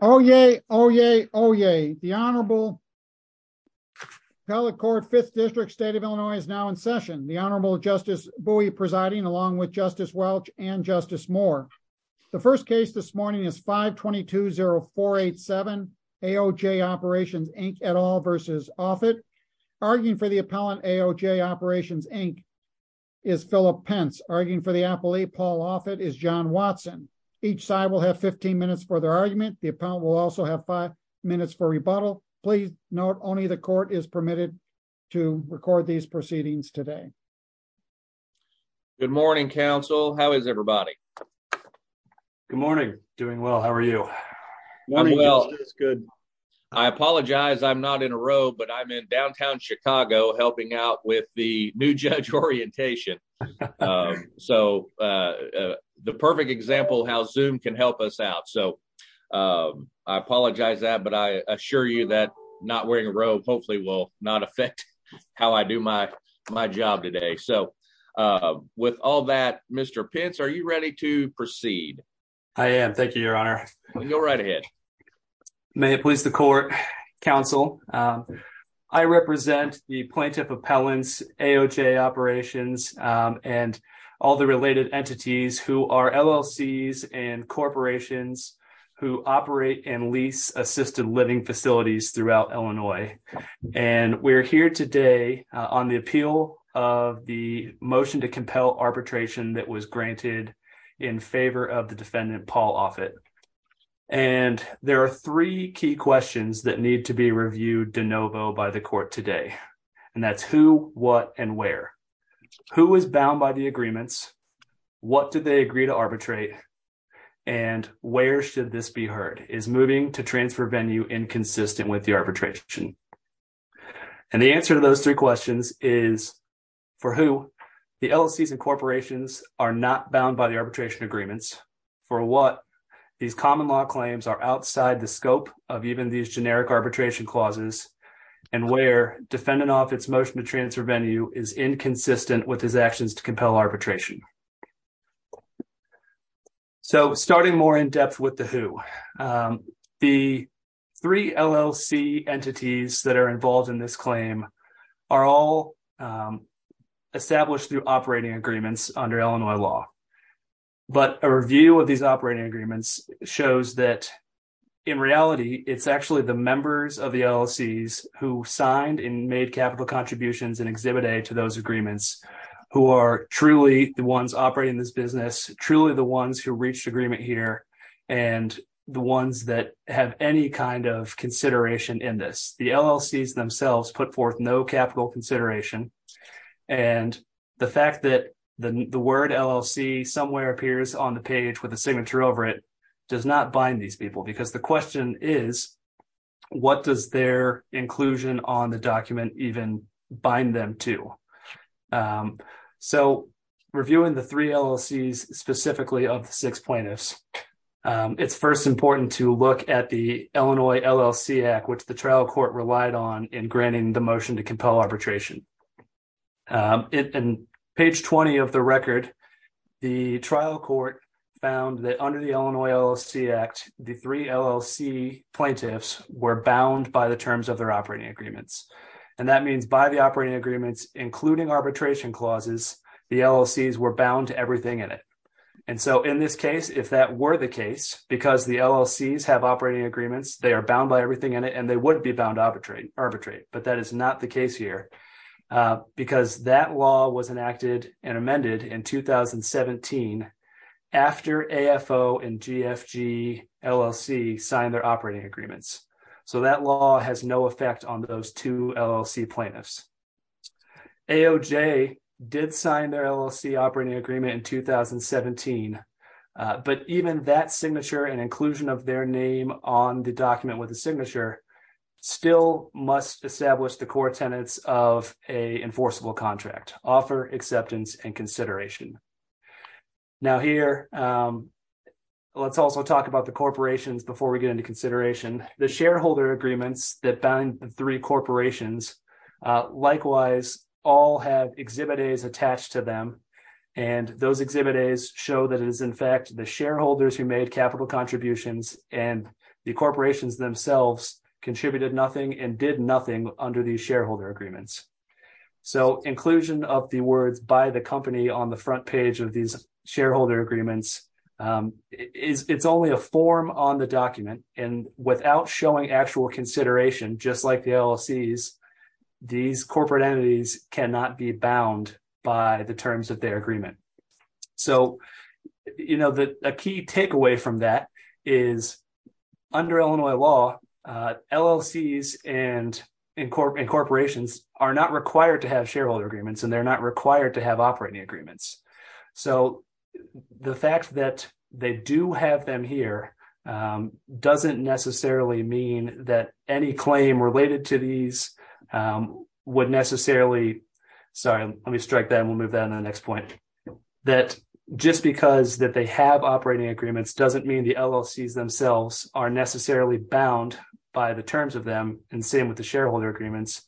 Oh, yay. Oh, yay. Oh, yay. The Honorable Appellate Court Fifth District State of Illinois is now in session. The Honorable Justice Bowie presiding along with Justice Welch and Justice Moore. The first case this morning is 5-220-487 AOJ Operations, Inc. et al. v. Offutt. Arguing for the appellant AOJ Operations, Inc. is Philip Pence. Arguing for the appellee, Paul Offutt, is John Watson. Each side will have 15 minutes for their argument. The appellant will also have five minutes for rebuttal. Please note only the court is permitted to record these proceedings today. Good morning, counsel. How is everybody? Good morning. Doing well. How are you? Morning. Good. I apologize. I'm not in a row, but I'm in downtown Chicago helping out with the new judge orientation. So the perfect example how Zoom can help us out. So I apologize that, but I assure you that not wearing a robe hopefully will not affect how I do my job today. So with all that, Mr. Pence, are you ready to proceed? I am. Thank you, Your Honor. Go right ahead. May it please the court, counsel. I represent the plaintiff appellant's AOJ Operations and all the related entities who are LLCs and corporations who operate and lease assisted living facilities throughout Illinois. And we're here today on the appeal of the motion to compel arbitration that was granted in favor of the defendant, Paul Offutt. And there are three key questions that need to be reviewed de novo by the court today. And that's who, what and where. Who is bound by the agreements? What did they agree to arbitrate? And where should this be heard? Is moving to transfer venue inconsistent with the arbitration? And the answer to those three questions is for who the LLCs and corporations are not bound by the arbitration agreements, for what these common law claims are outside the scope of even these generic arbitration clauses, and where defendant Offutt's motion to transfer venue is inconsistent with his actions to compel arbitration. So starting more in depth with the who, the three LLC entities that are involved in this claim are all established through operating agreements under Illinois law. But a review of these operating agreements shows that in reality, it's actually the members of the LLCs who signed and made capital contributions and exhibit A to those agreements, who are truly the ones operating this business, truly the ones who reached agreement here, and the ones that have any kind of consideration in this, the LLCs themselves put forth no capital consideration. And the fact that the word LLC somewhere appears on the page with a signature over it does not bind these people because the question is, what does their inclusion on the bind them to? So reviewing the three LLCs specifically of the six plaintiffs, it's first important to look at the Illinois LLC Act, which the trial court relied on in granting the motion to compel arbitration. In page 20 of the record, the trial court found that under the Illinois LLC Act, the three LLC plaintiffs were bound by the terms of their operating agreements. And that means by the operating agreements, including arbitration clauses, the LLCs were bound to everything in it. And so in this case, if that were the case, because the LLCs have operating agreements, they are bound by everything in it, and they wouldn't be bound arbitrate, but that is not the case here. Because that law was enacted and amended in 2017, after AFO and GFG LLC signed their operating agreements. So that law has no effect on those two LLC plaintiffs. AOJ did sign their LLC operating agreement in 2017. But even that signature and inclusion of their name on the document with a signature still must establish the core tenets of a enforceable contract offer acceptance and consideration. Now here, let's also talk about the shareholder agreements that bound the three corporations. Likewise, all have exhibit A's attached to them. And those exhibit A's show that it is in fact the shareholders who made capital contributions and the corporations themselves contributed nothing and did nothing under the shareholder agreements. So inclusion of the words by the company on the front page of these shareholder agreements, it's only a form on the document and without showing actual consideration, just like the LLCs, these corporate entities cannot be bound by the terms of their agreement. So, you know that a key takeaway from that is, under Illinois law, LLCs and incorporations are not required to have shareholder agreements, and they're not required to have operating agreements. So the fact that they do have them here doesn't necessarily mean that any claim related to these would necessarily, sorry, let me strike that and we'll move on to the next point, that just because that they have operating agreements doesn't mean the LLCs themselves are necessarily bound by the terms of them. And same with the shareholder agreements,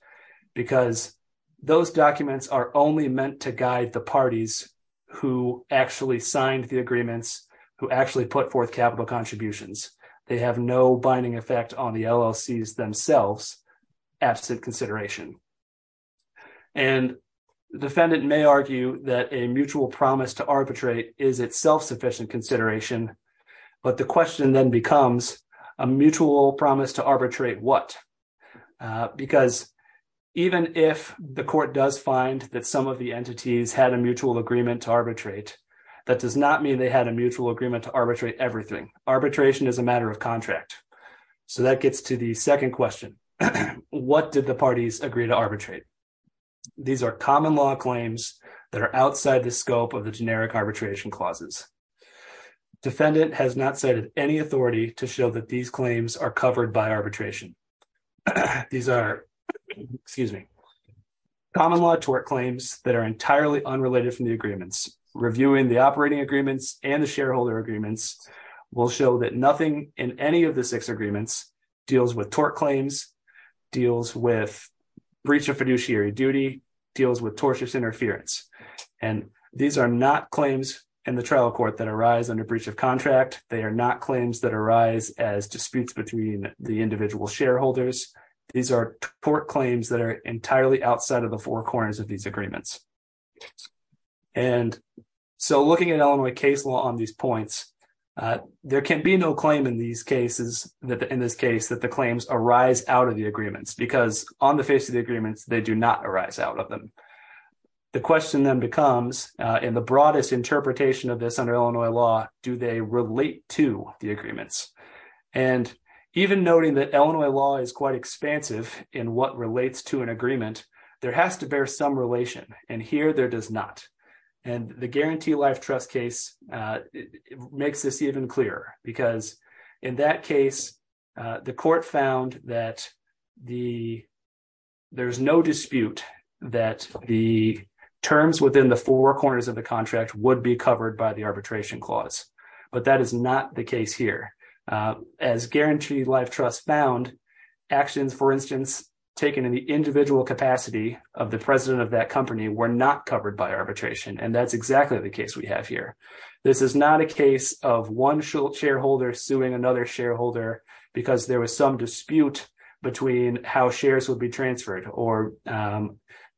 because those documents are only meant to guide the parties who actually signed the agreements, who actually put forth capital contributions. They have no binding effect on the LLCs themselves, absent consideration. And defendant may argue that a mutual promise to arbitrate is itself sufficient consideration. But the question then becomes a mutual promise to arbitrate what? Because even if the court does find that some of the entities had a mutual agreement to arbitrate, that does not mean they had a mutual agreement to arbitrate everything. Arbitration is a matter of contract. So that gets to the second question. What did the parties agree to arbitrate? These are common law claims that are outside the scope of the generic arbitration clauses. Defendant has not cited any authority to show that these claims are covered by entirely unrelated from the agreements. Reviewing the operating agreements and the shareholder agreements will show that nothing in any of the six agreements deals with tort claims, deals with breach of fiduciary duty, deals with tortious interference. And these are not claims in the trial court that arise under breach of contract. They are not claims that arise as disputes between the individual shareholders. These are tort claims that are entirely outside of the four agreements. And so looking at Illinois case law on these points, there can be no claim in these cases that in this case that the claims arise out of the agreements because on the face of the agreements, they do not arise out of them. The question then becomes in the broadest interpretation of this under Illinois law, do they relate to the agreements? And even noting that Illinois law is quite expansive in what relates to an And here there does not. And the guarantee life trust case makes this even clearer because in that case, the court found that the there's no dispute that the terms within the four corners of the contract would be covered by the arbitration clause. But that is not the case here. As guarantee life trust found actions, for instance, taken in the individual capacity of the president of that company were not covered by arbitration. And that's exactly the case we have here. This is not a case of one short shareholder suing another shareholder, because there was some dispute between how shares would be transferred or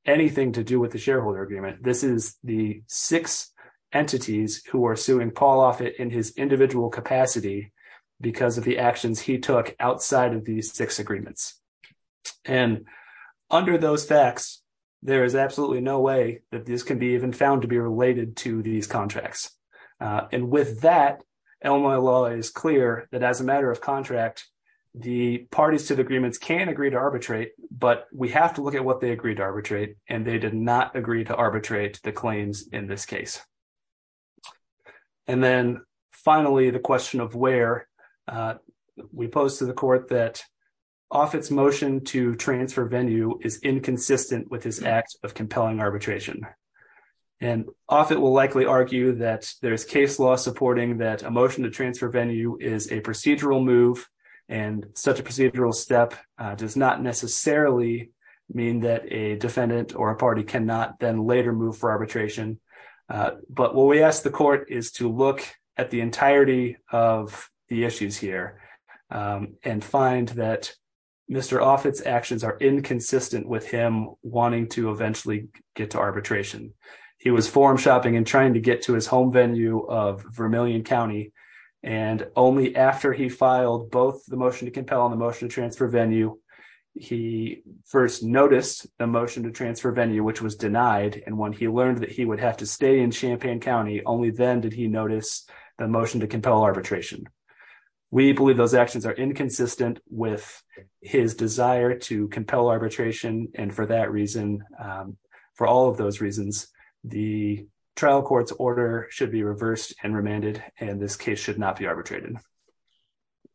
anything to do with the shareholder agreement. This is the six entities who are suing Paul Offit in his individual capacity, because of the actions he took outside of these six agreements. And under those facts, there is absolutely no way that this can be even found to be related to these contracts. And with that, Illinois law is clear that as a matter of contract, the parties to the agreements can agree to arbitrate, but we have to look at what they agreed to arbitrate, and they did not agree to arbitrate the claims in this case. And then finally, the question of where we pose the court that Offit's motion to transfer venue is inconsistent with his act of compelling arbitration. And Offit will likely argue that there's case law supporting that a motion to transfer venue is a procedural move. And such a procedural step does not necessarily mean that a defendant or a party cannot then later move for arbitration. But what we ask the court is to look at the entirety of the and find that Mr. Offit's actions are inconsistent with him wanting to eventually get to arbitration. He was forum-shopping and trying to get to his home venue of Vermillion County, and only after he filed both the motion to compel and the motion to transfer venue, he first noticed the motion to transfer venue, which was denied. And when he learned that he would have to stay in Champaign County, only then did he notice the motion to compel arbitration. We believe those actions are inconsistent with his desire to compel arbitration, and for that reason, for all of those reasons, the trial court's order should be reversed and remanded, and this case should not be arbitrated.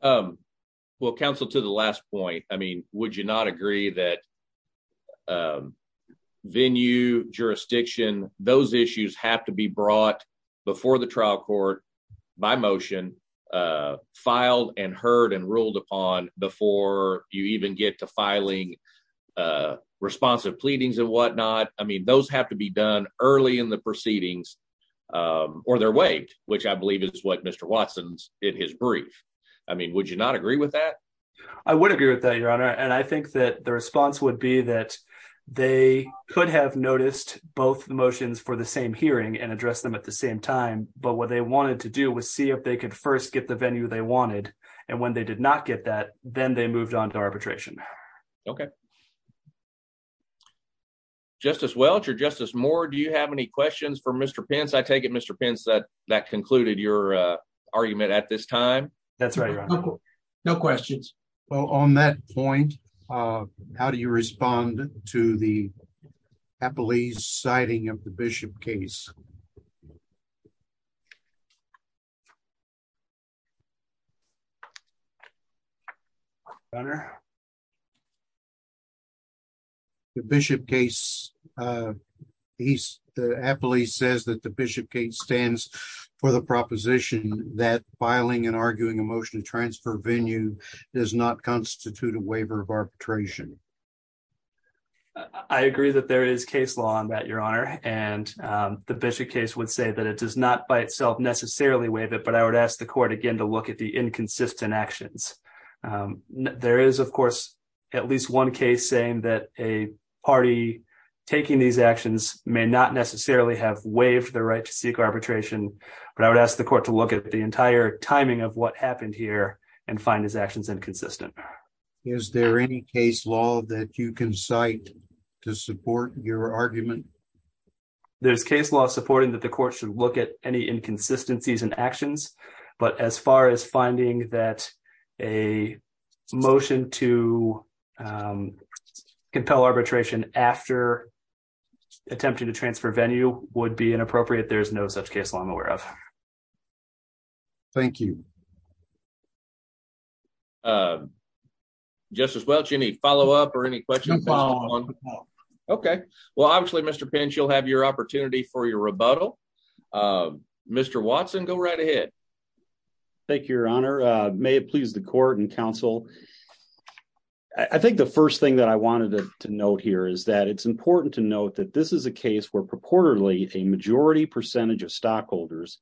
Well, counsel, to the last point, I mean, would you not agree that venue, jurisdiction, those issues have to be brought before the trial court by motion, filed and heard and ruled upon before you even get to filing responsive pleadings and whatnot. I mean, those have to be done early in the proceedings or they're waived, which I believe is what Mr. Watson's in his brief. I mean, would you not agree with that? I would agree with that, Your Honor, and I think that the response would be that they could have noticed both motions for the same hearing and address them at the same time, but what they wanted to do was see if they could first get the venue they wanted, and when they did not get that, then they moved on to arbitration. Okay. Justice Welch or Justice Moore, do you have any questions for Mr. Pence? I take it, Mr. Pence, that that concluded your argument at this time? That's right, Your Honor. No questions. Well, on that point, how do you respond to the Appellee's citing of the Bishop case, Your Honor? The Bishop case, the Appellee says that the Bishop case stands for the proposition that filing and arguing a motion to transfer venue does not constitute a waiver of arbitration. I agree that there is case law on that, Your Honor, and the Bishop case would say that it does not by itself necessarily waive it, but I would ask the Court again to look at the inconsistent actions. There is, of course, at least one case saying that a party taking these actions may not necessarily have waived the right to seek arbitration, but I would ask the Court to look at the entire timing of what happened here and find these actions inconsistent. Is there any case law that you can cite to support your argument? There's case law supporting that the Court should look at any inconsistencies in actions, but as far as finding that a motion to compel arbitration after attempting to transfer venue would be inappropriate, there's no such case law I'm aware of. Thank you. Justice Welch, any follow-up or any questions? Okay. Well, obviously, Mr. Pinch, you'll have your opportunity for your rebuttal. Mr. Watson, go right ahead. Thank you, Your Honor. May it please the Court and counsel, I think the first thing that I wanted to note here is that it's important to note that this is a case where purportedly a majority percentage of stockholders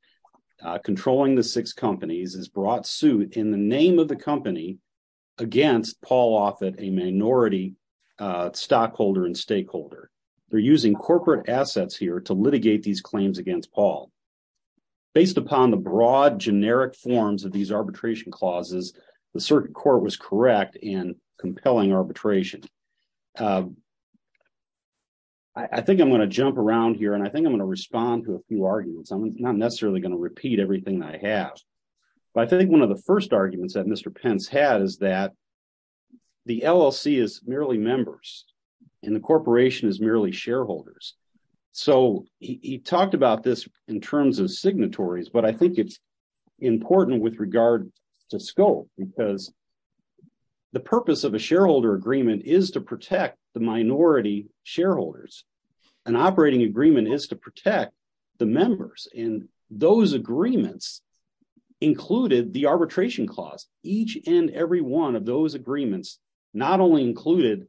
controlling the six companies has brought suit in the name of the company against Paul Offit, a minority stockholder and stakeholder. They're using corporate assets here to litigate these claims against Paul. Based upon the broad generic forms of these arbitration clauses, the circuit court was correct in compelling arbitration. I think I'm going to jump around here and I think I'm going to respond to a few arguments. I'm not necessarily going to repeat everything I have. I think one of the first arguments that Mr. Pence had is that the LLC is merely members and the corporation is merely shareholders. So he talked about this in terms of signatories, but I think it's important with regard to scope because the purpose of a shareholder agreement is to protect the minority shareholders. An operating agreement is to protect the members and those the arbitration clause. Each and every one of those agreements not only included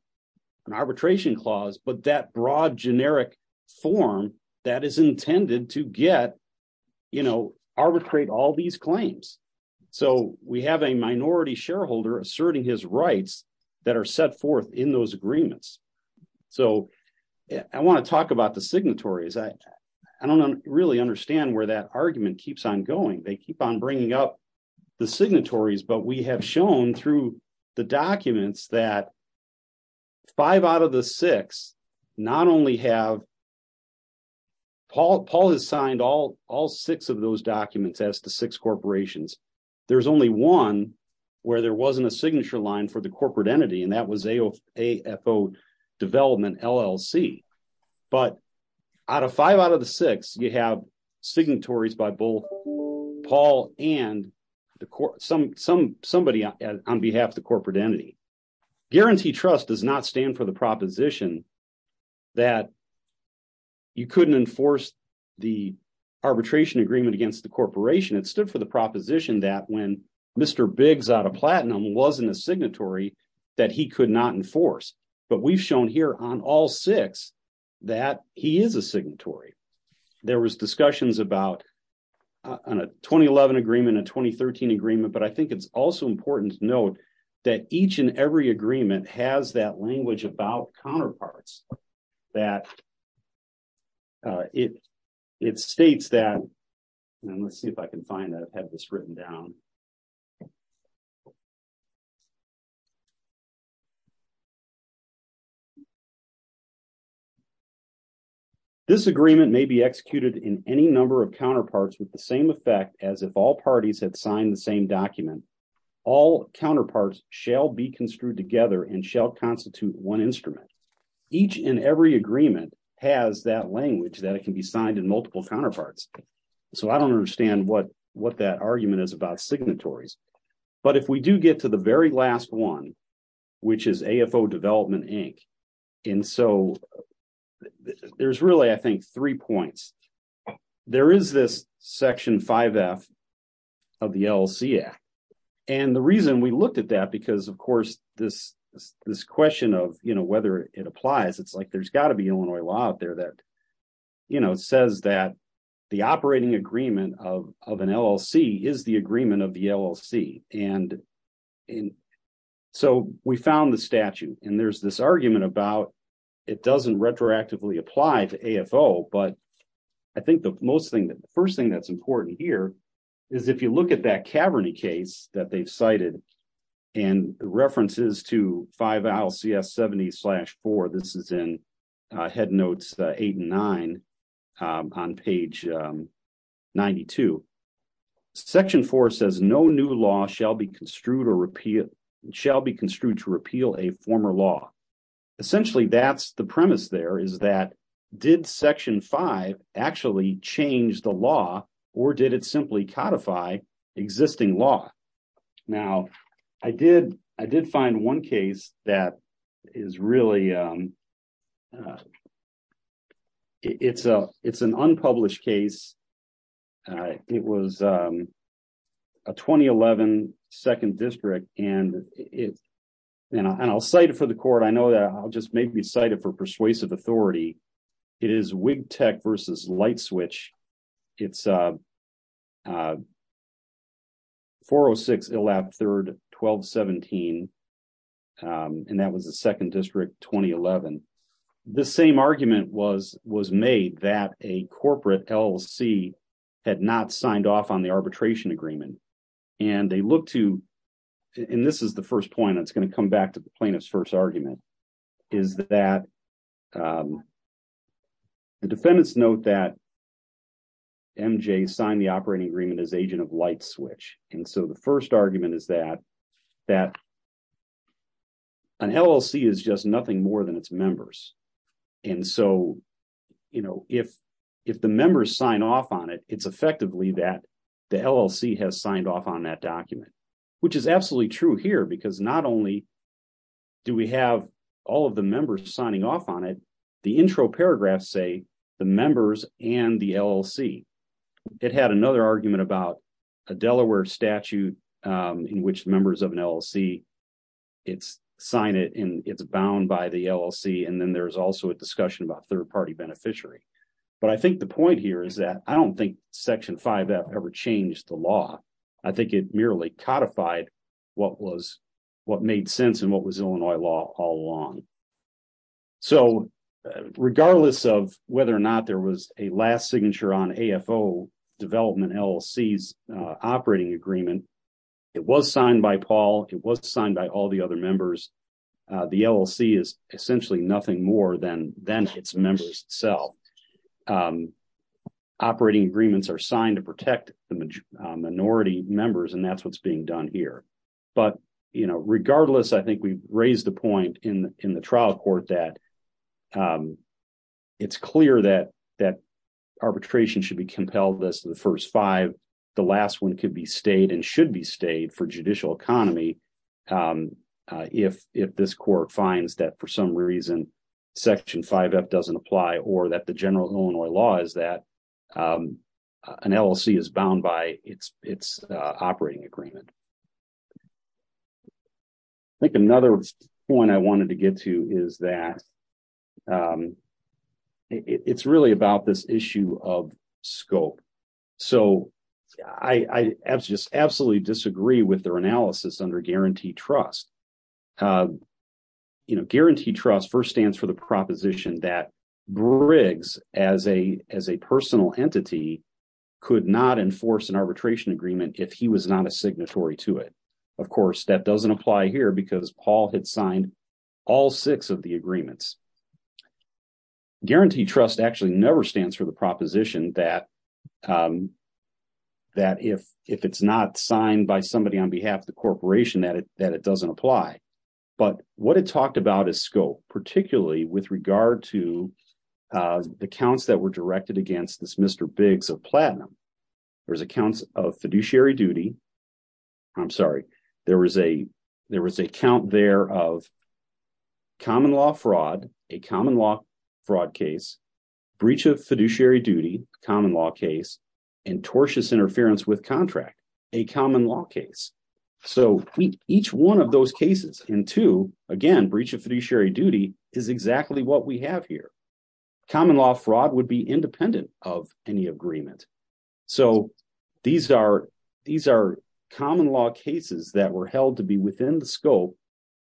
an arbitration clause, but that broad generic form that is intended to get, you know, arbitrate all these claims. So we have a minority shareholder asserting his rights that are set forth in those agreements. So I want to talk about the signatories. I don't really understand where that argument keeps on going. They keep on bringing up the signatories, but we have shown through the documents that five out of the six not only have Paul has signed all six of those documents as to six corporations. There's only one where there wasn't a signature line for the corporate entity, and that was AFO Development LLC. But out of five out of the six, you have signatories by both Paul and somebody on behalf of the corporate entity. Guarantee trust does not stand for the proposition that you couldn't enforce the arbitration agreement against the corporation. It stood for the proposition that when Mr. Biggs out of platinum wasn't a signatory that he could not enforce. But we've shown here on all six that he is a signatory. There was discussions about on a 2011 agreement, a 2013 agreement, but I think it's also important to note that each and every agreement has that language about counterparts that it states that, and let's see if I can find that, have this written down. This agreement may be executed in any number of counterparts with the same effect as if all parties had signed the same document. All counterparts shall be construed together and shall constitute one instrument. Each and every agreement has that language that it can be signed in multiple counterparts. So I don't understand what that argument is about signatories. But if we do get to the very last one, which is AFO Development Inc. And so there's really, I think, three points. There is this Section 5F of the LLC Act. And the reason we looked at that, because of course, this question of whether it applies, it's like there's got to be Illinois law out there that says that the operating agreement of an LLC is the agreement of the LLC. And so we found the statute and there's this argument about it doesn't retroactively apply to AFO. But I think the first thing that's important here is if you look at that Caverny case that they've cited and references to 5LCS 70-4. This is in Head Notes 8 and 9 on page 92. Section 4 says no new law shall be construed to repeal a former law. Essentially, that's the premise there is that did Section 5 actually change the law or did it simply codify existing law? Now, I did find one case that is really, it's an unpublished case. It was a 2011 2nd District and I'll cite it for the court. I know that I'll just maybe cite it for persuasive authority. It is Wig Tech versus Light Switch. It's 406 Illap 3rd 1217 and that was the 2nd District 2011. The same argument was made that a corporate LLC had not signed off on the arbitration agreement. And they look to, and this is the first point that's going to come back to the plaintiff's first argument, is that the MJ signed the operating agreement as agent of Light Switch. And so the first argument is that an LLC is just nothing more than its members. And so if the members sign off on it, it's effectively that the LLC has signed off on that document, which is absolutely true here because not only do we have all of the members signing off on it, the intro paragraphs say the members and LLC. It had another argument about a Delaware statute in which members of an LLC sign it and it's bound by the LLC. And then there's also a discussion about third party beneficiary. But I think the point here is that I don't think Section 5F ever changed the law. I think it merely codified what made sense and what was Illinois law all along. So regardless of whether or not there was a last signature on AFO Development LLC's operating agreement, it was signed by Paul. It was signed by all the other members. The LLC is essentially nothing more than its members itself. Operating agreements are signed to protect the minority members, and that's what's being done here. But, you know, regardless, I think we raised the point in the trial court that it's clear that arbitration should be compelled to the first five. The last one could be stayed and should be stayed for judicial economy if this court finds that for some reason Section 5F doesn't apply or that the general Illinois law is that an LLC is bound by its operating agreement. I think another point I wanted to get to is that it's really about this issue of scope. So I just absolutely disagree with their analysis under guaranteed trust. You know, guaranteed trust first stands for the proposition that Briggs, as a personal entity, could not enforce an Of course, that doesn't apply here because Paul had signed all six of the agreements. Guaranteed trust actually never stands for the proposition that if it's not signed by somebody on behalf of the corporation that it doesn't apply. But what it talked about is scope, particularly with regard to the counts that were directed against this Mr. Biggs of Platinum. There's accounts of fiduciary duty. I'm sorry, there was a count there of common law fraud, a common law fraud case, breach of fiduciary duty, common law case, and tortious interference with contract, a common law case. So each one of those cases and two, again, breach of fiduciary duty is exactly what we have here. Common law fraud would be independent of any agreement. So these are common law cases that were held to be within the scope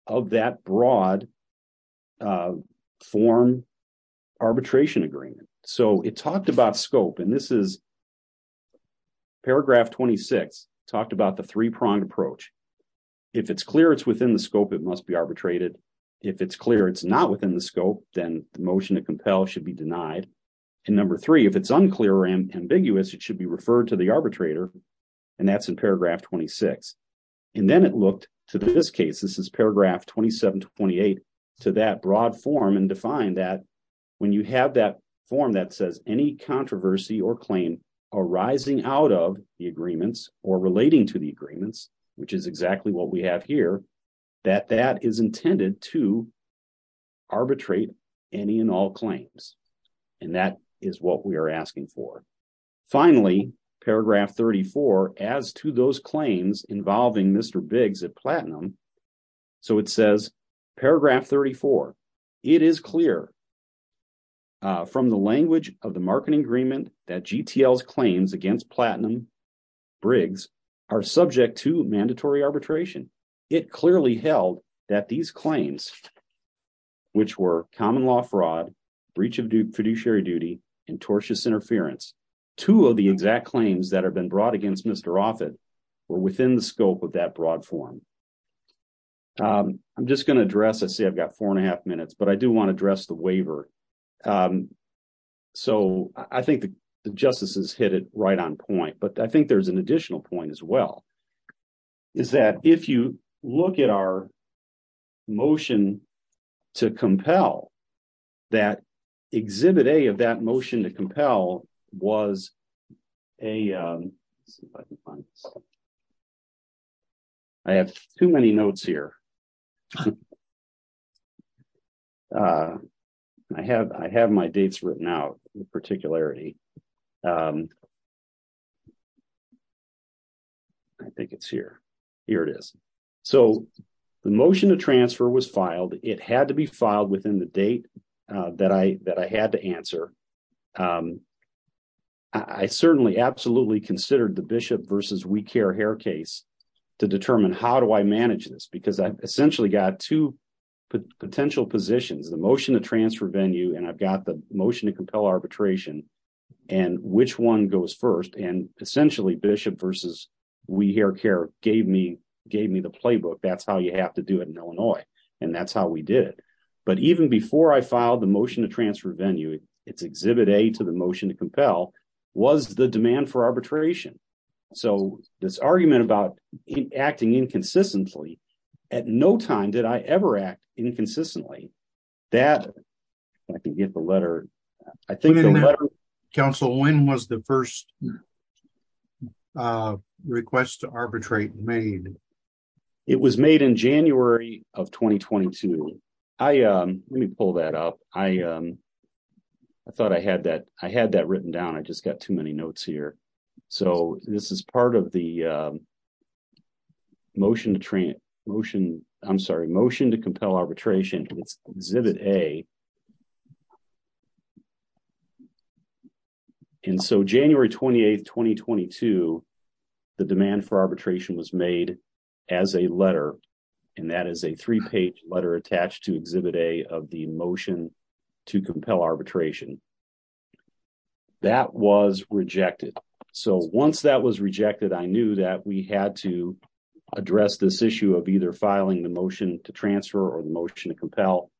of that broad form arbitration agreement. So it talked about scope, and this is paragraph 26, talked about the three-pronged approach. If it's clear it's within the scope, it must be arbitrated. If it's clear it's not within the scope, then the motion to compel should be denied. And number three, if it's unclear or ambiguous, it should be referred to the arbitrator, and that's in paragraph 26. And then it looked to this case, this is paragraph 27-28, to that broad form and defined that when you have that form that says any controversy or claim arising out of the agreements or relating to the agreements, which is exactly what we have here, that that is intended to arbitrate any and all claims. And that is what we are asking for. Finally, paragraph 34, as to those claims involving Mr. Briggs at Platinum, so it says, paragraph 34, it is clear from the language of the marketing agreement that GTL's claims against Platinum Briggs are subject to mandatory arbitration. It clearly held that these claims, which were common law fraud, breach of fiduciary duty, and tortious interference, two of the exact claims that have been brought against Mr. Offit were within the scope of that broad form. I'm just going to address, I see I've got four and a half minutes, but I do want to address the waiver. So I think the justices hit it right on point, but I think there's an additional point as well, is that if you look at our motion to compel, that exhibit A of that motion to compel was a, let's see if I can find this, I have too many notes here. I have my dates written out in particularity. I think it's here. Here it is. So the motion to transfer was filed. It had to be filed within the date that I had to answer. I certainly absolutely considered the Bishop versus WeCare hair case to determine how do I manage this, because I've essentially got two potential positions, the motion to transfer venue, and I've got the motion to compel arbitration, and which one goes first, and essentially Bishop versus WeCare care gave me the playbook. That's how you have to do it in Illinois. And that's how we did it. But even before I filed the motion to transfer venue, it's exhibit A to the motion to compel was the demand for arbitration. So this argument about acting inconsistently at no time did I ever act inconsistently that I can get the letter. I think council when was the first request to arbitrate made. It was made in January of 2022. I let me pull that up. I thought I had that. I had that written down. I just got too many notes here. So this is part of the motion to motion. I'm sorry, motion to compel arbitration. Exhibit A. And so January 28, 2022, the demand for arbitration was made as a letter, and that is a three page letter attached to exhibit A of the motion to compel arbitration. That was rejected. So once that was rejected, I knew that we had to address this issue of either filing the motion to transfer or the compel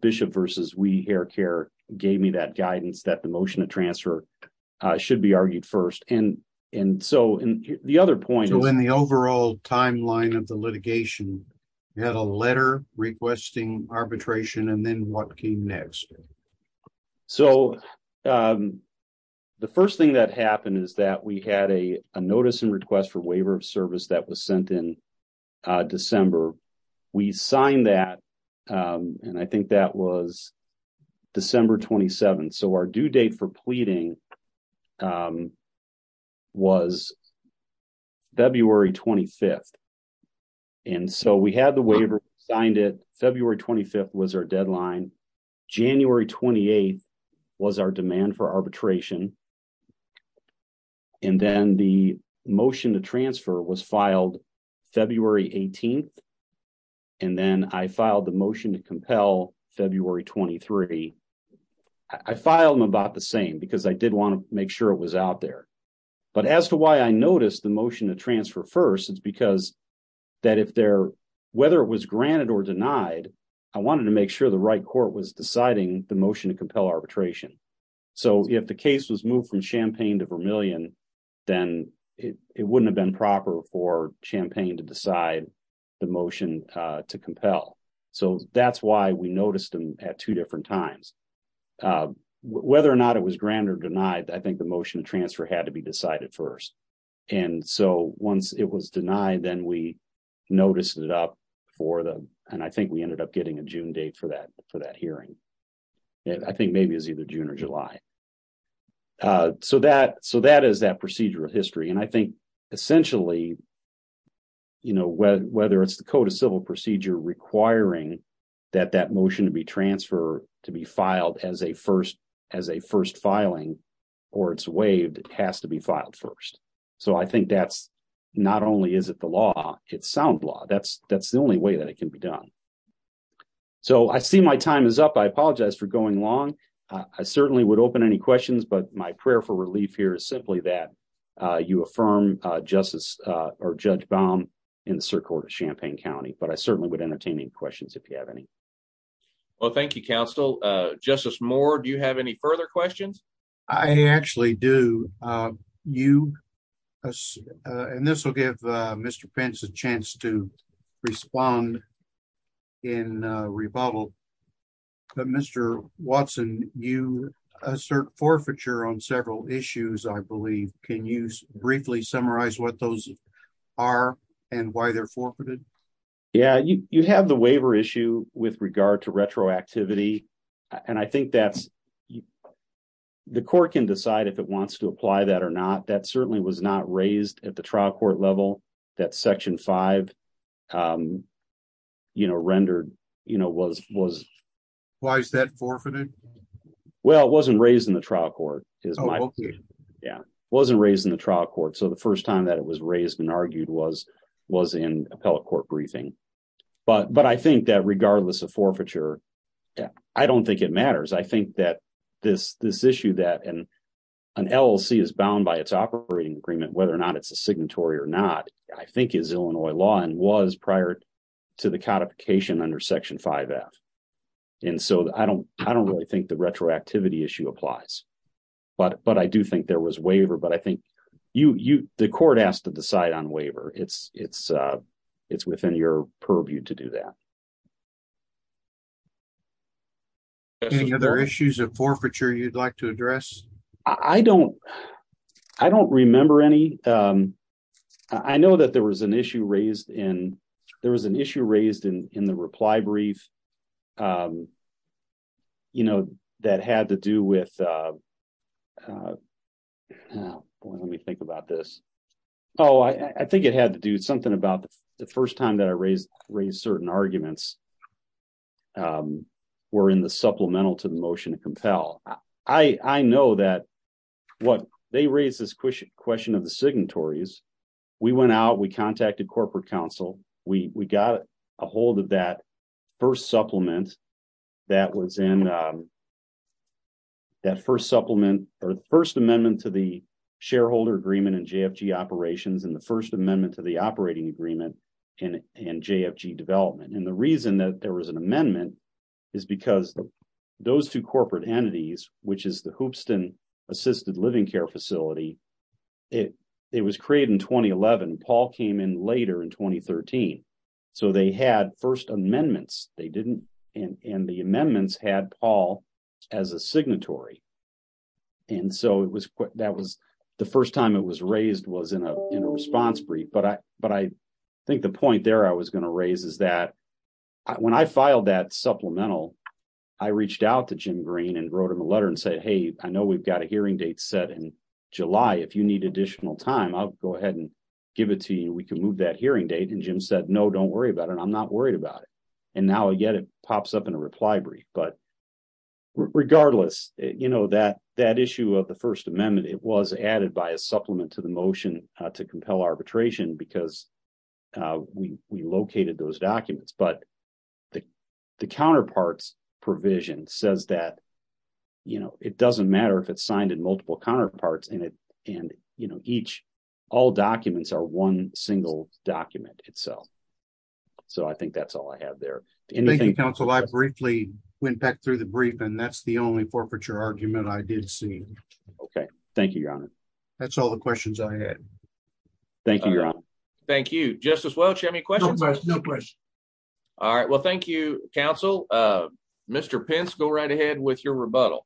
bishop versus we hair care gave me that guidance that the motion to transfer should be argued first. And so the other point in the overall timeline of the litigation had a letter requesting arbitration. And then what came next? So the first thing that happened is that we had a notice and request for waiver of service that was sent in December. We signed that, and I think that was December 27th. So our due date for pleading was February 25th. And so we had the waiver, signed it. February 25th was our deadline. January 28th was our demand for arbitration. And then the motion to transfer was filed February 18th. And then I filed the motion to compel February 23. I filed them about the same because I did want to make sure it was out there. But as to why I noticed the motion to transfer first, it's because that if there, whether it was granted or denied, I wanted to make sure the right court was deciding the motion to compel arbitration. So if the case was moved from Champaign to Vermillion, then it wouldn't have been proper for Champaign to decide the motion to compel. So that's why we noticed them at two different times. Whether or not it was granted or denied, I think the motion to transfer had to be decided first. And so once it was denied, then we noticed it up for the, and I think we ended up getting a June date for that hearing. I think maybe it was either June or July. So that is that procedural history. And I think essentially, you know, whether it's the Code of Civil Procedure requiring that that motion to be transferred to be filed as a first filing or it's waived, it has to be filed first. So I think that's not only is it the law, it's sound law. That's the only way that it can be done. So I see my time is up. I apologize for going long. I certainly would open any questions. But my prayer for relief here is simply that you affirm Justice or Judge Baum in the Circuit Court of Champaign County. But I certainly would entertain any questions if you have any. Well, thank you, counsel. Justice Moore, do you have any further questions? I actually do. You, and this will give Mr. Pence a chance to respond in rebuttal. But Mr. Watson, you assert forfeiture on several issues, I believe. Can you briefly summarize what those are and why they're forfeited? Yeah, you have the waiver issue with regard to retroactivity. And I think that's the court can decide if it wants to apply that or not. That certainly was not raised at the trial court level. That section five rendered was... Why is that forfeited? Well, it wasn't raised in the trial court. Oh, okay. Yeah, it wasn't raised in the trial court. So the first time that it was raised and argued was in appellate court briefing. But I think that regardless of forfeiture, I don't think it matters. I think that this issue that an LLC is bound by its operating agreement, whether or not it's a signatory or not, I think is Illinois law and was prior to the codification under section five F. And so I don't really think the retroactivity issue applies. But I do think there was waiver. But I think the court has to decide on waiver. It's within your purview to do that. Any other issues of forfeiture you'd like to address? I don't remember any. I know that there was an issue raised in the reply brief that had to do with... Let me think about this. Oh, I think it had to do something about the first time that I raised certain arguments were in the supplemental to the motion to compel. I know that they raised this question of the signatories. We went out. We contacted corporate counsel. We got a hold of that first supplement that was in that first supplement or the first amendment to the shareholder agreement and JFG operations and the first amendment to the operating agreement and JFG development. And the reason that there was an amendment is because those two corporate entities, which is the Hoopston assisted living care facility, it was created in 2011. Paul came in later in 2013. So they had first amendments. They didn't. And the amendments had Paul as a signatory. And so the first time it was raised was in a response brief. But I think the point there I was going to raise is that when I filed that supplemental, I reached out to Jim Green and wrote him a letter and said, hey, I know we've got a hearing date set in July. If you need additional time, I'll go ahead and give it to you. We can move that hearing date. And Jim said, no, don't worry about it. I'm not worried about it. And now, again, it pops up in a reply brief. But regardless, that issue of the first amendment, it was added by a supplement to the motion to compel arbitration because we located those documents. But the counterparts provision says that, you know, it doesn't matter if it's signed in multiple counterparts in it. And, you know, each all documents are one single document itself. So I think that's all I have there. Thank you, counsel. I briefly went back through the brief, and that's the only forfeiture argument I did see. OK, thank you, Your Honor. That's all the questions I had. Thank you, Your Honor. Thank you. Justice Welch, do you have any questions? No questions. All right. Well, thank you, counsel. Mr. Pence, go right ahead with your rebuttal.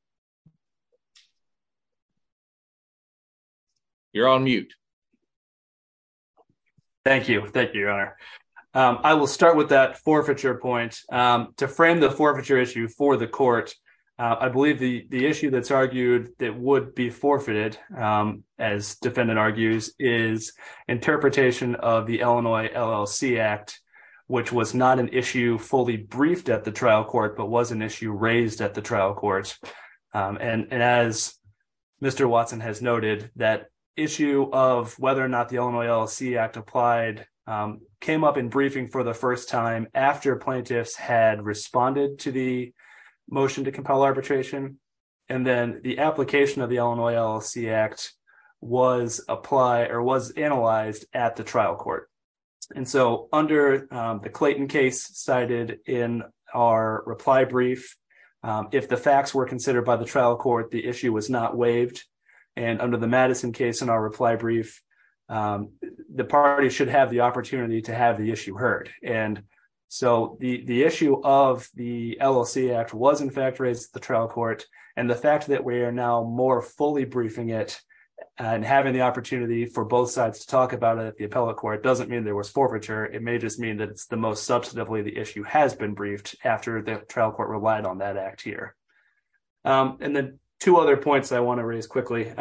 You're on mute. Thank you. Thank you, Your Honor. I will start with that forfeiture point. To frame the forfeiture issue for the court, I believe the issue that's argued that would be forfeited, as defendant argues, is interpretation of the Illinois LLC Act, which was not an issue fully briefed at the trial court, but was an issue raised at the trial court. And as Mr. Watson has noted, that issue of whether or not the Illinois LLC Act applied came up in briefing for the first time after plaintiffs had responded to the motion to compel arbitration. And then the application of the Illinois LLC Act was analyzed at the trial court. And so under the Clayton case cited in our reply brief, if the facts were considered by the trial court, the issue was not waived. And under the Madison case in our reply brief, the party should have the opportunity to have the issue heard. And so the issue of the LLC Act was, in fact, raised at the trial court. And the fact that we are now more fully briefing it and having the opportunity for both sides to talk about it at the appellate court doesn't mean there was forfeiture. It may just mean that it's the most substantively the issue has been briefed after the trial court relied on that act here. And then two other points I want to raise quickly.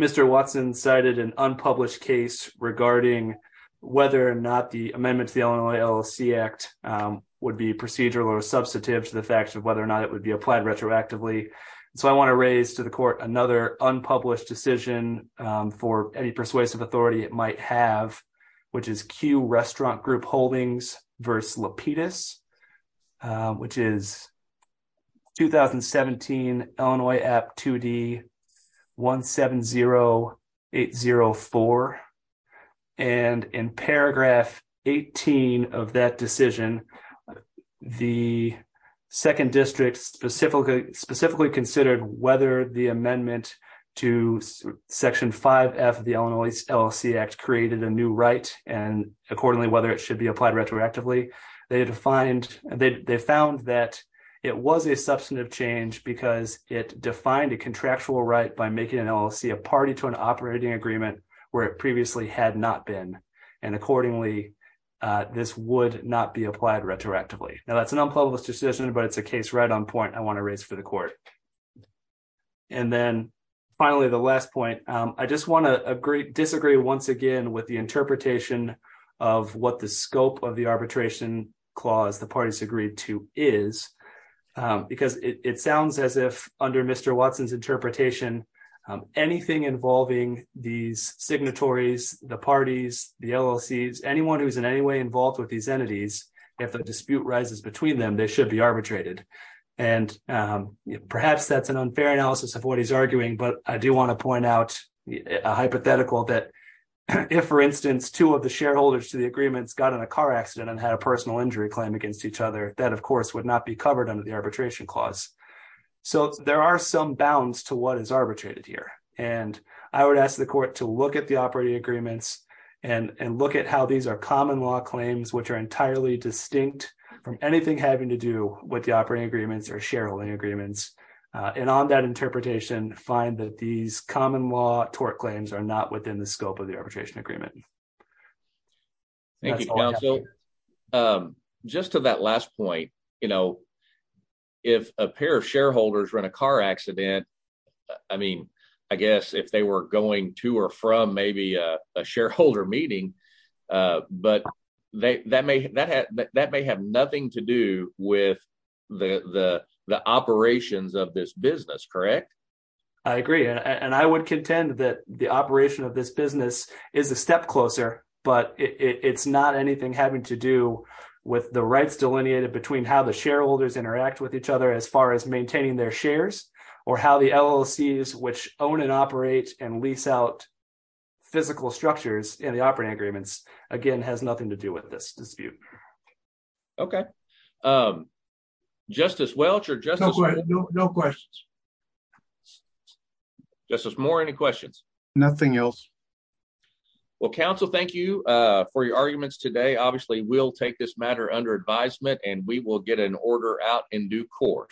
Mr. Watson cited an unpublished case regarding whether or not the amendments to the Illinois LLC Act would be procedural or substantive to the fact of whether or not it would be applied retroactively. So I want to raise to the court another unpublished decision for any persuasive authority it might have, which is Q Restaurant Group Holdings versus Lapidus, which is 2017 Illinois Act 2D 170804. And in paragraph 18 of that decision, the second district specifically considered whether the amendment to Section 5F of the Illinois LLC Act created a new right and accordingly whether it should be applied retroactively. They found that it was a substantive change because it defined a contractual right by making an LLC a party to an operating agreement where it previously had not been. And accordingly, this would not be applied retroactively. Now, that's an unpublished decision, but it's a case right I want to raise for the court. And then finally, the last point, I just want to disagree once again with the interpretation of what the scope of the arbitration clause the parties agreed to is because it sounds as if under Mr. Watson's interpretation, anything involving these signatories, the parties, the LLCs, anyone who's in any way involved with these entities, if the dispute rises between them, they should be arbitrated. And perhaps that's an unfair analysis of what he's arguing. But I do want to point out a hypothetical that if, for instance, two of the shareholders to the agreements got in a car accident and had a personal injury claim against each other, that, of course, would not be covered under the arbitration clause. So there are some bounds to what is arbitrated here. And I would ask the court to look at the operating agreements and look at how these are common law claims, which are entirely distinct from anything having to do with the operating agreements or shareholding agreements. And on that interpretation, find that these common law tort claims are not within the scope of the arbitration agreement. Thank you, counsel. Just to that last point, you know, if a pair of shareholders run a car accident, I mean, I guess if they were going to or from maybe a shareholder meeting. But that may have nothing to do with the operations of this business, correct? I agree. And I would contend that the operation of this business is a step closer, but it's not anything having to do with the rights delineated between how the shareholders interact with each other as far as maintaining their shares or how the LLCs which own and operate and lease out physical structures in the operating agreements, again, has nothing to do with this dispute. Okay. Justice Welch or just no questions. Justice Moore, any questions? Nothing else. Well, counsel, thank you for your arguments today. Obviously, we'll take this matter under advisement and we will get an order out in due court.